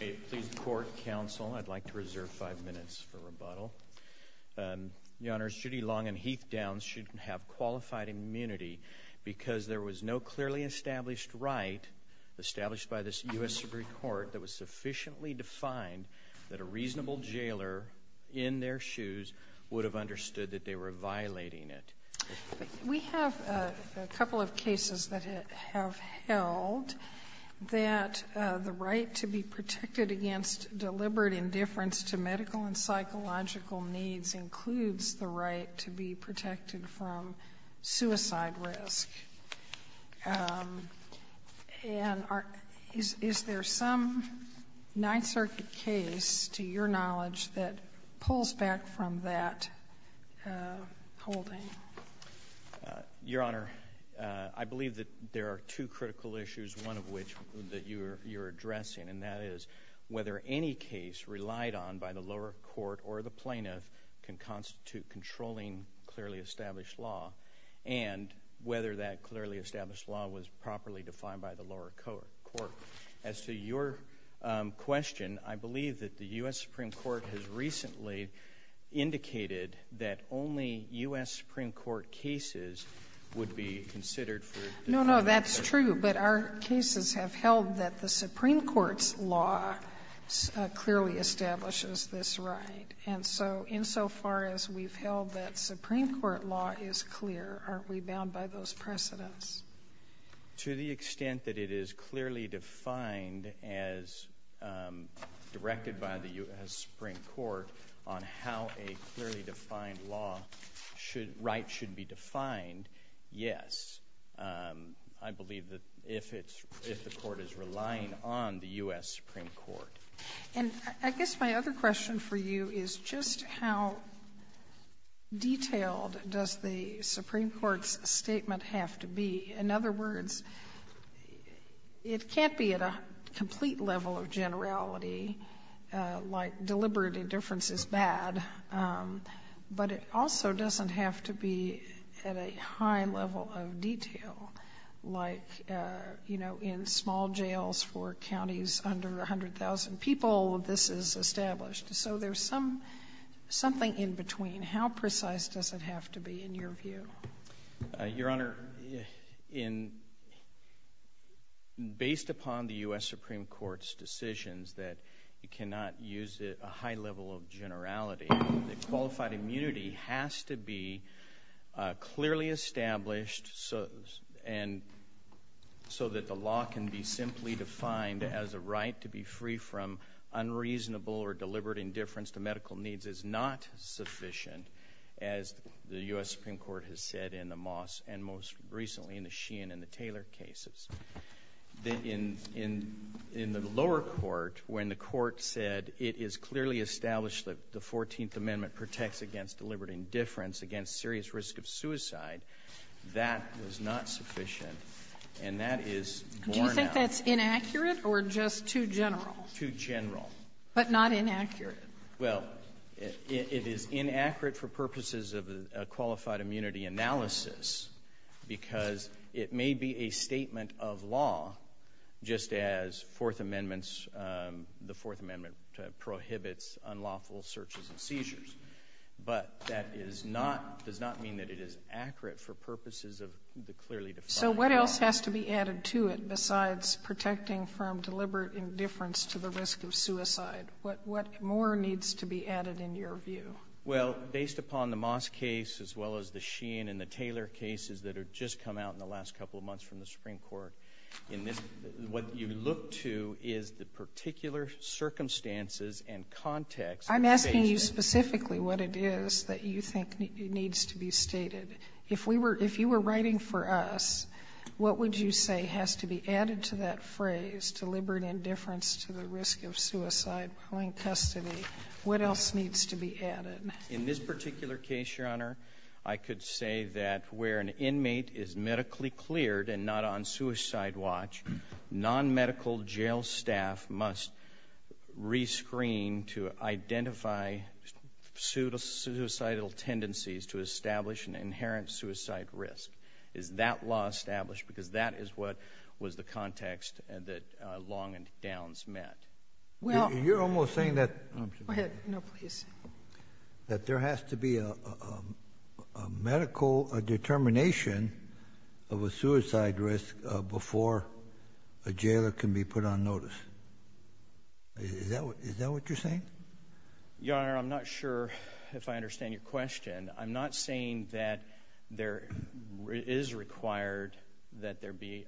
May it please the Court, Counsel, I'd like to reserve five minutes for rebuttal. Your Honors, Judy Long and Heath Downs should have qualified immunity because there was no clearly established right established by this U.S. Supreme Court that was sufficiently defined that a reasonable jailer in their shoes would have understood that they were violating it. We have a couple of cases that have held that the right to be protected against deliberate indifference to medical and psychological needs includes the right to be protected from suicide risk. And is there some Ninth Circuit case, to your knowledge, that pulls back from that holding? Your Honor, I believe that there are two critical issues, one of which that you're you're addressing, and that is whether any case relied on by the lower court or the plaintiff can constitute controlling clearly established law, and whether that clearly established law was properly defined by the lower court. As to your question, I believe that the U.S. Supreme Court has cases would be considered for... No, no, that's true, but our cases have held that the Supreme Court's law clearly establishes this right, and so insofar as we've held that Supreme Court law is clear, aren't we bound by those precedents? To the extent that it is clearly defined as directed by the U.S. Supreme Court on how a clearly defined law should be defined, yes. I believe that if it's — if the Court is relying on the U.S. Supreme Court. And I guess my other question for you is just how detailed does the Supreme Court's statement have to be? In other words, it can't be at a complete level of generality like deliberate indifference is bad, but it also doesn't have to be at a high level of detail like, you know, in small jails for counties under 100,000 people, this is established. So there's some — something in between. How precise does it have to be in your view? Your Honor, in — based upon the U.S. Supreme Court's decisions that it cannot use a high level of generality, qualified immunity has to be clearly established so that the law can be simply defined as a right to be free from unreasonable or deliberate indifference to medical needs is not sufficient, as the U.S. Supreme Court has said in the Moss and most recently in the Sheehan and the Taylor cases. In — in the lower court, when the Court said it is clearly established that the 14th Amendment protects against deliberate indifference, against serious risk of suicide, that was not sufficient, and that is borne out. Do you think that's inaccurate or just too general? Too general. But not inaccurate. Well, it is inaccurate for purposes of a qualified immunity analysis because it may be a statement of law, just as Fourth Amendment's — the Fourth Amendment prohibits unlawful searches and seizures. But that is not — does not mean that it is accurate for purposes of the clearly defined law. So what else has to be added to it besides protecting from deliberate indifference to the risk of suicide? What — what more needs to be added, in your view? Well, based upon the Moss case, as well as the Sheehan and the Taylor cases that have just come out in the last couple of months from the Supreme Court, in this — what you look to is the particular circumstances and context — I'm asking you specifically what it is that you think needs to be stated. If we were — if you were writing for us, what would you say has to be added to that phrase, deliberate indifference to the risk of suicide, pulling custody? What else needs to be added? In this particular case, Your Honor, I could say that where an inmate is medically cleared and not on suicide watch, non-medical jail staff must rescreen to identify suicidal tendencies to establish an inherent suicide risk. Is that law established? Because that is what was the context that Long and Downs met. Well — You're almost saying that — Go ahead. No, please. That there has to be a medical determination of a suicide risk before a jailer can be put on notice. Is that what — is that what you're saying? Your Honor, I'm not sure if I understand your question. I'm not saying that there is required that there be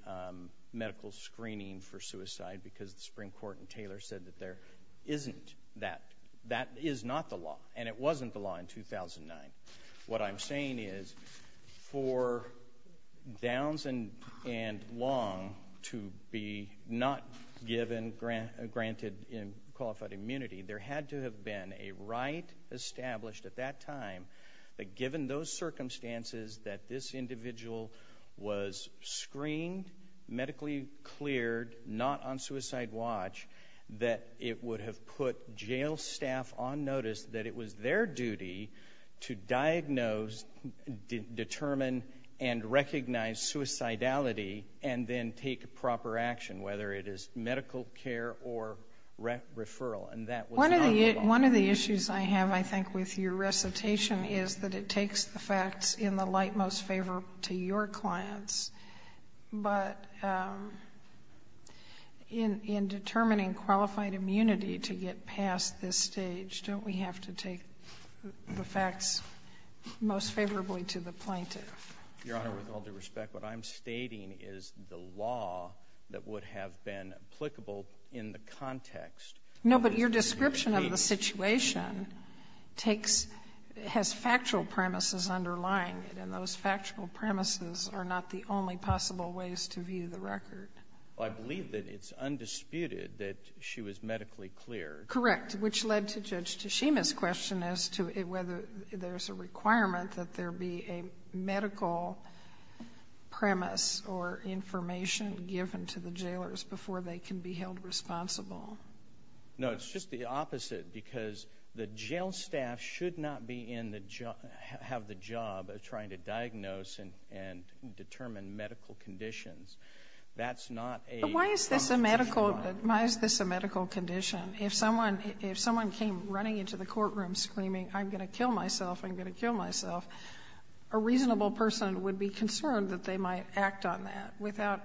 medical screening for suicide because the Supreme Court in Taylor said that there isn't that. That is not the law, and it wasn't the law in 2009. What I'm saying is for Downs and Long to be not given — granted qualified immunity, there had to have been a right established at that time that given those circumstances that this individual was screened, medically cleared, not on suicide watch, that it would have put jail staff on notice that it was their duty to diagnose, determine, and recognize suicidality and then take proper action, whether it is medical care or referral. And that was not the law. One of the issues I have, I think, with your recitation is that it takes the facts in the light most favorable to your clients. But in determining qualified immunity to get past this stage, don't we have to take the facts most favorably to the plaintiff? Your Honor, with all due respect, what I'm stating is the law that would have been applicable in the context — No, but your description of the situation takes — has factual premises underlying it, and those factual premises are not the only possible ways to view the record. Well, I believe that it's undisputed that she was medically cleared. Correct. Which led to Judge Tshima's question as to whether there's a requirement that there be a medical premise or information given to the jailers before they can be held responsible. No, it's just the opposite, because the jail staff should not be in the — have the job of trying to diagnose and determine medical conditions. That's not a — But why is this a medical — why is this a medical condition? If someone came running into the courtroom screaming, I'm going to kill myself, I'm going to kill myself, a reasonable person would be concerned that they might act on that without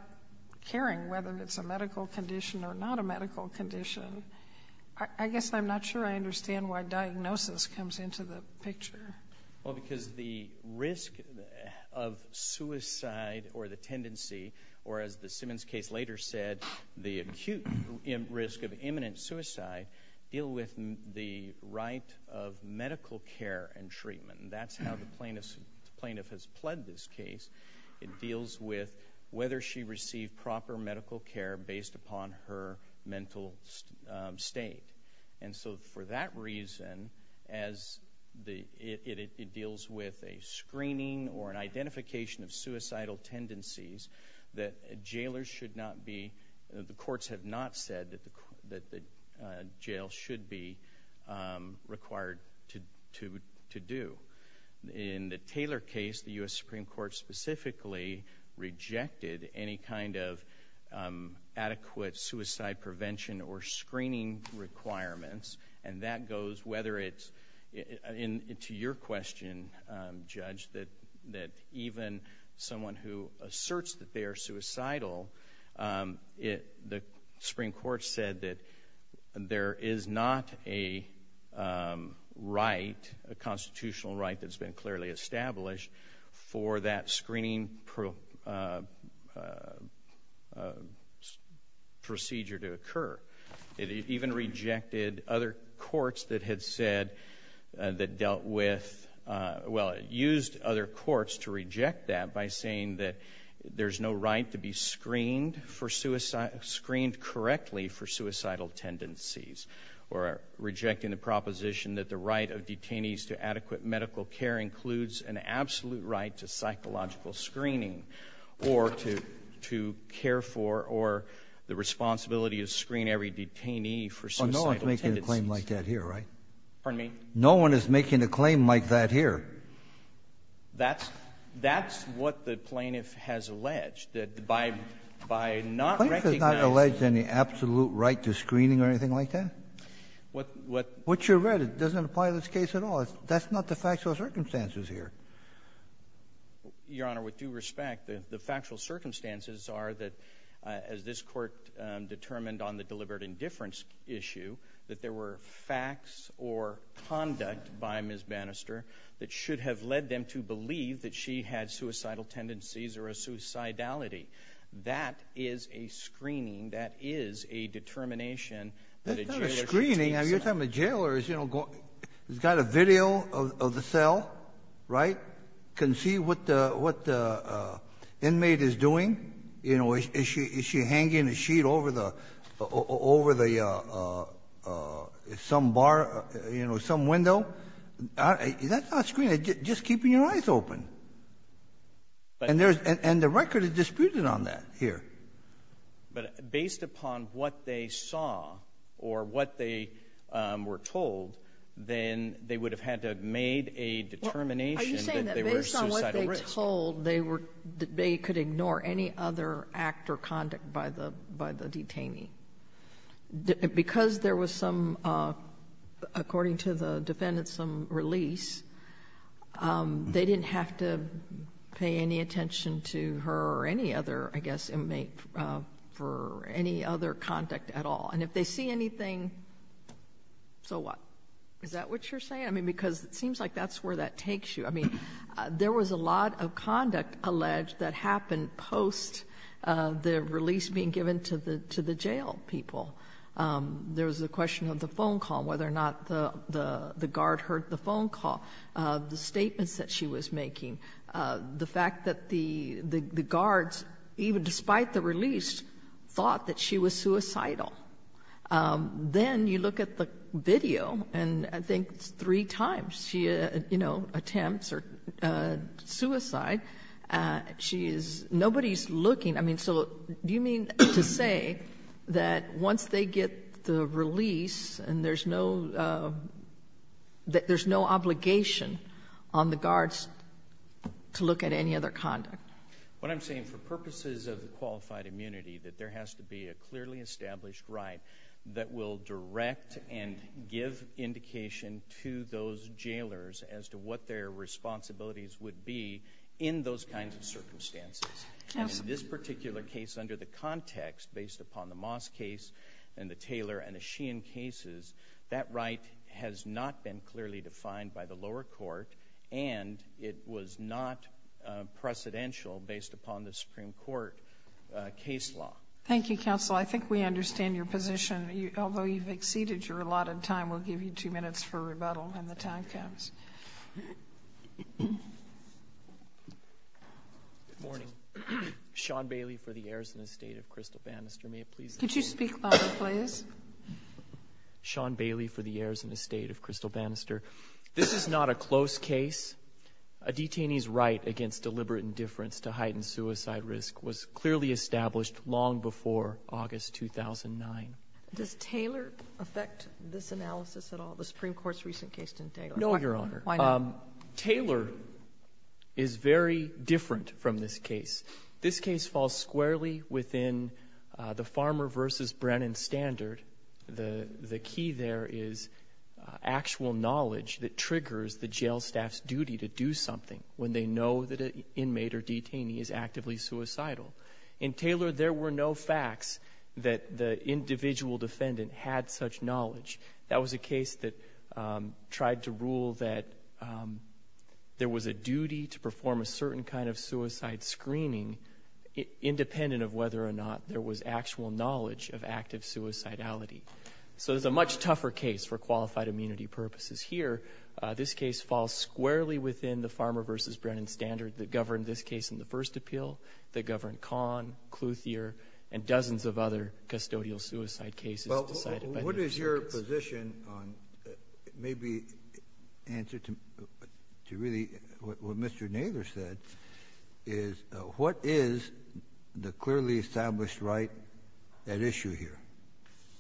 caring whether it's a medical condition or not a medical condition. I guess I'm not sure I understand why diagnosis comes into the picture. Well, because the risk of suicide or the tendency, or as the Simmons case later said, the acute risk of imminent suicide deal with the right of medical care and treatment. That's how the plaintiff has pled this case. It deals with whether she received proper medical care based upon her mental state. And so for that reason, as it deals with a screening or an identification of suicidal tendencies, that jailers should not be — the courts have not said that the jail should be required to do. In the Taylor case, the U.S. Supreme Court specifically rejected any kind of adequate suicide prevention or screening requirements, and that goes whether it's — and to your question, Judge, that even someone who asserts that they are suicidal, the Supreme Court said that there is not a right, a constitutional right that's been clearly established for that screening procedure to occur. It even rejected other courts that had said — that dealt with — well, it used other courts to reject that by saying that there's no right to be screened for — screened correctly for suicidal tendencies, or rejecting the proposition that the right of detainees to adequate medical care includes an absolute right to psychological screening or to care for or the responsibility to screen every detainee for suicidal tendencies. No one's making a claim like that here, right? Pardon me? No one is making a claim like that here. That's — that's what the plaintiff has alleged, that by — by not recognizing — The plaintiff has not alleged any absolute right to screening or anything like that? What — what — What you read doesn't apply to this case at all. That's not the factual circumstances here. Your Honor, with due respect, the factual circumstances are that, as this Court determined on the deliberate indifference issue, that there were facts or conduct by Ms. Bannister that should have led them to believe that she had suicidal tendencies or a suicidality. That is a screening. That is a determination that a jailor can take. That's not a screening. You're talking about jailors, you know, going — who's got a video of the cell, right, can see what the — what the inmate is doing. You know, is she — is she hanging a sheet over the — over the — some bar — you know, is that not a screening? Just keeping your eyes open. And there's — and the record is disputed on that here. But based upon what they saw or what they were told, then they would have had to have made a determination that they were suicidal risk. Are you saying that based on what they told, they were — they could ignore any other act or conduct by the — by the detainee? Because there was some, according to the defendants, some release. They didn't have to pay any attention to her or any other, I guess, inmate for any other conduct at all. And if they see anything, so what? Is that what you're saying? I mean, because it seems like that's where that takes you. I mean, there was a lot of conduct alleged that happened post the release being given to the — to the jail people. There was the question of the phone call, whether or not the guard heard the phone call, the statements that she was making, the fact that the guards, even despite the release, thought that she was suicidal. Then you look at the video, and I think three times she, you know, attempts her suicide. She is — nobody's looking. I mean, so do you mean to say that once they get the release and there's no — there's no obligation on the guards to look at any other conduct? What I'm saying, for purposes of the qualified immunity, that there has to be a clearly established right that will direct and give indication to those jailers as to what their responsibilities would be in those kinds of circumstances. And in this particular case, under the context, based upon the Moss case and the Taylor and the Sheehan cases, that right has not been clearly defined by the lower court, and it was not precedential based upon the Supreme Court case law. Thank you, counsel. I think we understand your position. Although you've exceeded your allotted time, we'll give you two minutes for rebuttal when the time comes. Good morning. Sean Bailey for the Arizona State of Crystal Bannister. May it please the Court — Could you speak louder, please? Sean Bailey for the Arizona State of Crystal Bannister. This is not a close case. A detainee's right against deliberate indifference to heighten suicide risk was clearly established long before August 2009. Does Taylor affect this analysis at all? The Supreme Court's recent case didn't take — No, Your Honor. Why not? Taylor is very different from this case. This case falls squarely within the Farmer v. Brennan standard. The key there is actual knowledge that triggers the jail staff's duty to do something when they know that an inmate or detainee is actively suicidal. In Taylor, there were no facts that the individual defendant had such knowledge. That was a case that tried to rule that there was a duty to perform a certain kind of suicide screening, independent of whether or not there was actual knowledge of active suicidality. So it's a much tougher case for qualified immunity purposes. Here, this case falls squarely within the Farmer v. Brennan standard that governed this case in the first appeal, that governed Kahn, Kluthier, and dozens of other custodial suicide cases decided by — What is your position on maybe answer to really what Mr. Naylor said is, what is the clearly established right at issue here?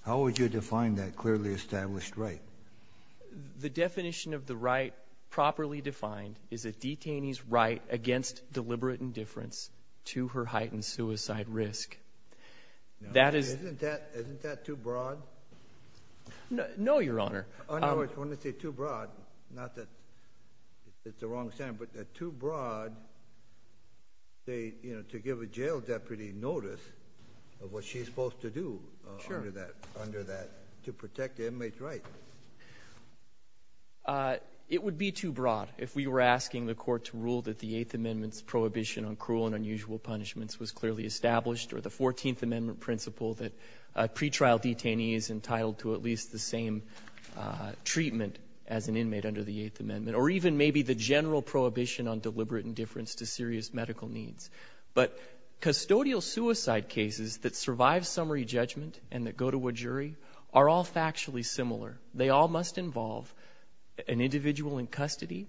How would you define that clearly established right? The definition of the right properly defined is a detainee's right against deliberate indifference to her heightened suicide risk. That is — Isn't that too broad? No, Your Honor. Oh, no, I was going to say too broad, not that it's the wrong standard, but too broad to give a jail deputy notice of what she's supposed to do under that, to protect the inmate's right. It would be too broad if we were asking the Court to rule that the Eighth Amendment's prohibition on cruel and unusual punishments was clearly established, or the Fourteenth Amendment principle that a pretrial detainee is entitled to at least the same treatment as an inmate under the Eighth Amendment, or even maybe the general prohibition on deliberate indifference to serious medical needs. But custodial suicide cases that survive summary judgment and that go to a jury are all factually similar. They all must involve an individual in custody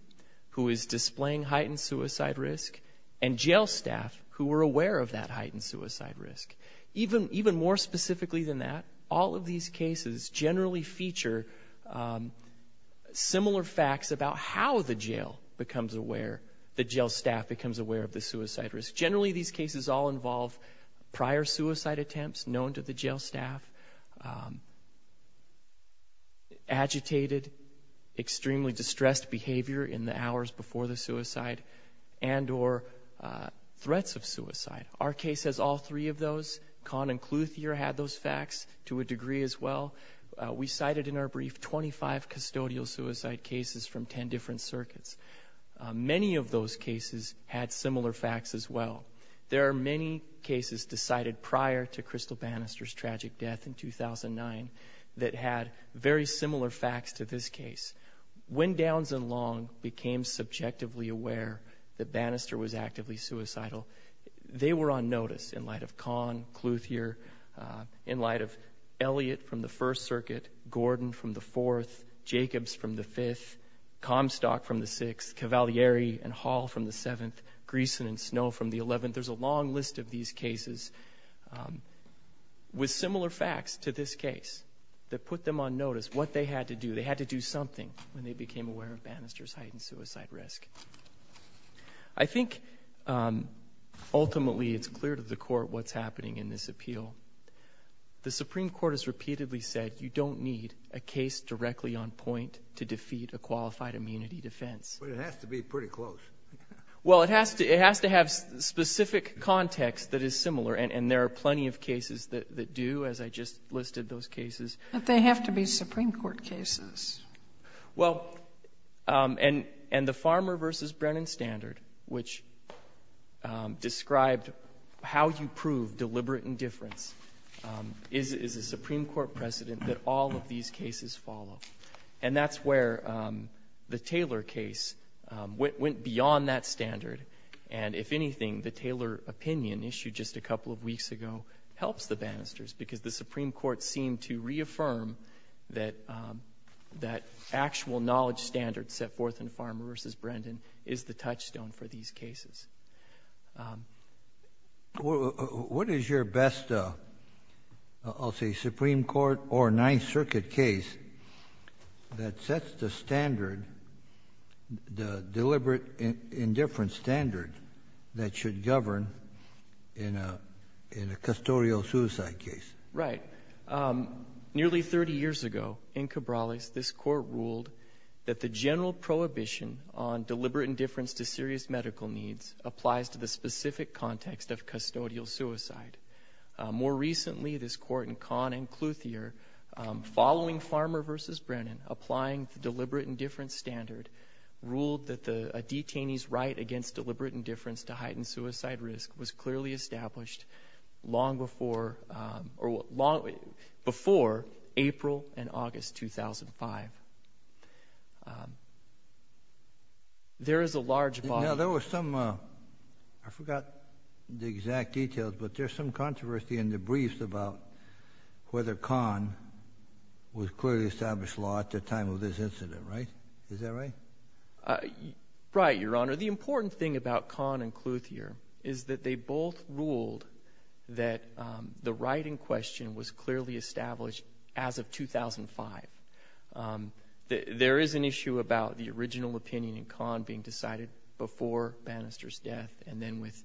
who is displaying heightened suicide risk and jail staff who are aware of that heightened suicide risk. Even more specifically than that, all of these cases generally feature similar facts about how the jail becomes aware — the jail staff becomes aware of the suicide risk. Generally, these cases all involve prior suicide attempts known to the jail staff, agitated, extremely distressed behavior in the hours before the suicide, and or threats of suicide. Our case has all three of those. Kahn and Kluthier had those facts to a degree as well. We cited in our brief 25 custodial suicide cases from 10 different circuits. Many of those cases had similar facts as well. There are many cases decided prior to Crystal Bannister's tragic death in 2009 that had very similar facts to this case. When Downs and Long became subjectively aware that Bannister was actively suicidal, they were on notice in light of Kahn, Kluthier, in light of Elliott from the First Circuit, Gordon from the Fourth, Jacobs from the Fifth, Comstock from the Sixth, Cavalieri and Hall from the Seventh, Greeson and Snow from the Eleventh. There's a long list of these cases with similar facts to this case that put them on notice what they had to do. They had to do something when they became aware of Bannister's heightened suicide risk. I think ultimately it's clear to the court what's happening in this appeal. The Supreme Court has repeatedly said you don't need a case directly on point to defeat a qualified immunity defense. But it has to be pretty close. Well, it has to have specific context that is similar. And there are plenty of cases that do, as I just listed those cases. But they have to be Supreme Court cases. Well, and the Farmer v. Brennan standard, which described how you prove deliberate indifference, is a Supreme Court precedent that all of these cases follow. And that's where the Taylor case went beyond that standard. And if anything, the Taylor opinion issued just a couple of weeks ago helps the Bannister's because the Supreme Court seemed to reaffirm that that actual knowledge standard set forth in Farmer v. Brennan is the touchstone for these cases. What is your best, I'll say, Supreme Court or Ninth Circuit case that sets the standard, the deliberate indifference standard that should govern in a custodial suicide case? Right. Nearly 30 years ago, in Cabrales, this Court ruled that the general prohibition on deliberate indifference to serious medical needs applies to the specific context of custodial suicide. More recently, this Court in Kahn and Clouthier, following Farmer v. Brennan, applying the deliberate indifference standard, ruled that a detainee's right against deliberate indifference to heighten suicide risk was clearly established long before April and August 2005. There is a large volume. Now, there was some, I forgot the exact details, but there's some controversy in the briefs about whether Kahn was clearly established law at the time of this incident, right? Is that right? Right, Your Honor. The important thing about Kahn and Clouthier is that they both ruled that the right in question was clearly established as of 2005. There is an issue about the original opinion in Kahn being decided before Bannister's death, and then with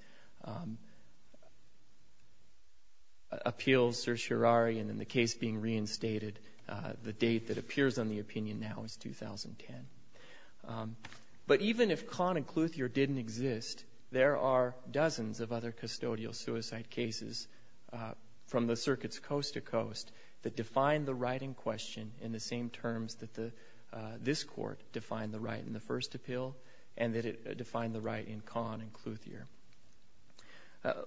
appeals certiorari and then the case being reinstated, the date that appears on the opinion now is 2010. But even if Kahn and Clouthier didn't exist, there are dozens of other custodial suicide cases from the circuits coast to coast that define the right in question in the same terms that this court defined the right in the first appeal and that it defined the right in Kahn and Clouthier.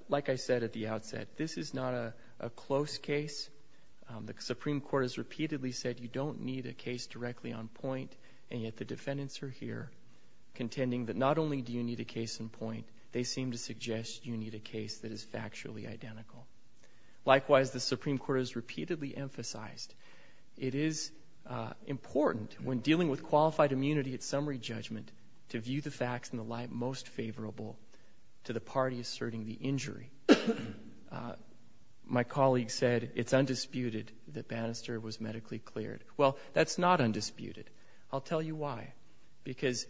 Like I said at the outset, this is not a close case. The Supreme Court has repeatedly said you don't need a case directly on point, and yet the defendants are here and they seem to suggest you need a case that is factually identical. Likewise, the Supreme Court has repeatedly emphasized it is important when dealing with qualified immunity at summary judgment to view the facts in the light most favorable to the party asserting the injury. My colleague said it's undisputed that Bannister was medically cleared. Well, that's not undisputed. I'll tell you why. Because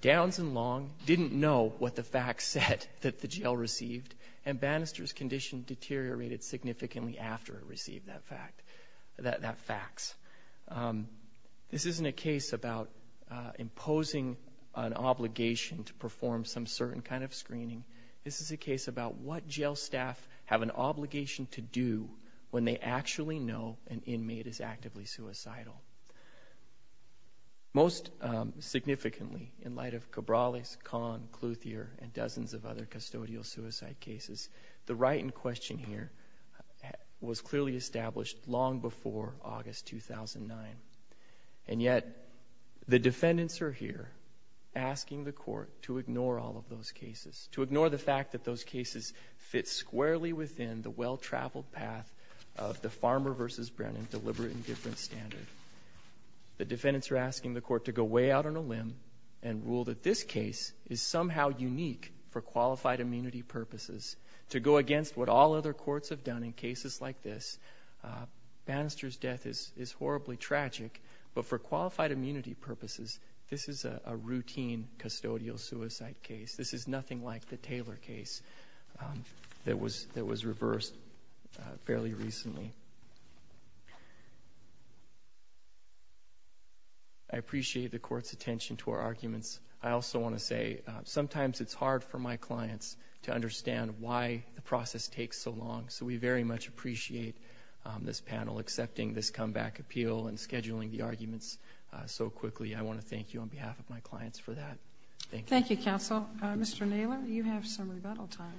Downs and Long didn't know what the facts said that the jail received, and Bannister's condition deteriorated significantly after he received that fact, that fax. This isn't a case about imposing an obligation to perform some certain kind of screening. This is a case about what jail staff have an obligation to do when they actually know an inmate is actively suicidal. Most significantly, in light of Cabrales, Kahn, Clouthier, and dozens of other custodial suicide cases, the right in question here was clearly established long before August 2009. And yet the defendants are here asking the court to ignore all of those cases, to ignore the fact that those cases fit squarely within the well-traveled path of the Farmer v. Brennan deliberate indifference standard. The defendants are asking the court to go way out on a limb and rule that this case is somehow unique for qualified immunity purposes, to go against what all other courts have done in cases like this. Bannister's death is horribly tragic, but for qualified immunity purposes, this is a routine custodial suicide case. This is nothing like the Taylor case that was reversed fairly recently. I appreciate the court's attention to our arguments. I also want to say sometimes it's hard for my clients to understand why the process takes so long, so we very much appreciate this panel accepting this comeback appeal and scheduling the arguments so quickly. I want to thank you on behalf of my clients for that. Thank you. Thank you, counsel. Mr. Naylor, you have some rebuttal time.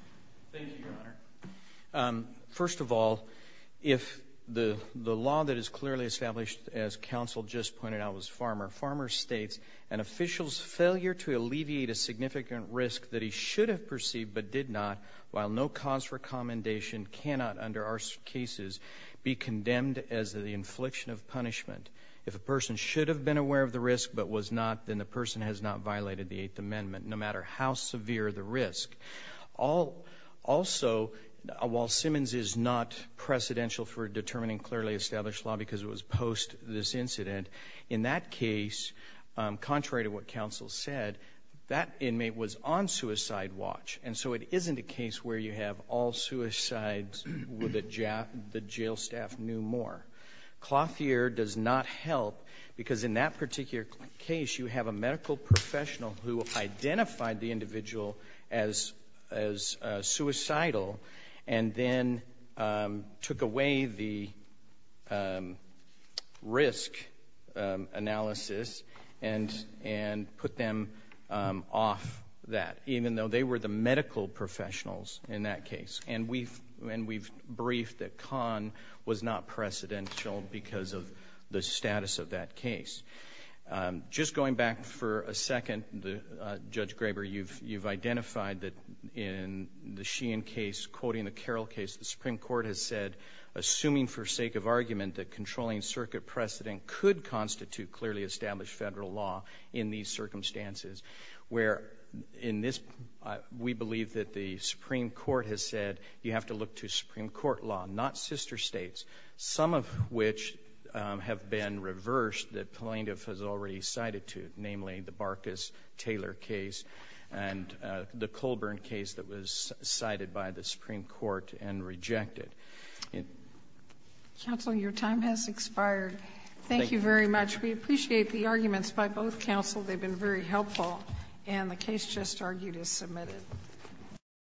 Thank you, Your Honor. First of all, if the law that is clearly established, as counsel just pointed out, was Farmer, Farmer states an official's failure to alleviate a significant risk that he should have perceived but did not, while no cause for commendation cannot under our cases be condemned as the infliction of punishment. If a person should have been aware of the risk but was not, then the person has not violated the Eighth Amendment, no matter how severe the risk. Also, while Simmons is not precedential for determining clearly established law because it was post this incident, in that case, contrary to what counsel said, that inmate was on suicide watch, and so it isn't a case where you have all suicides where the jail staff knew more. Clothier does not help because in that particular case, you have a medical professional who identified the individual as suicidal and then took away the risk analysis and put them off that, even though they were the medical professionals in that case. And we've briefed that Kahn was not precedential because of the status of that case. Just going back for a second, Judge Graber, you've identified that in the Sheehan case, quoting the Carroll case, the Supreme Court has said, assuming for sake of argument, that controlling circuit precedent could constitute clearly established federal law in these circumstances, where in this, we believe that the Supreme Court has said, you have to look to Supreme Court law, not sister states, some of which have been reversed that plaintiff has already cited to, namely, the Barkas-Taylor case and the Colburn case that was cited by the Supreme Court and rejected. Counsel, your time has expired. Thank you very much. We appreciate the arguments by both counsel. They've been very helpful.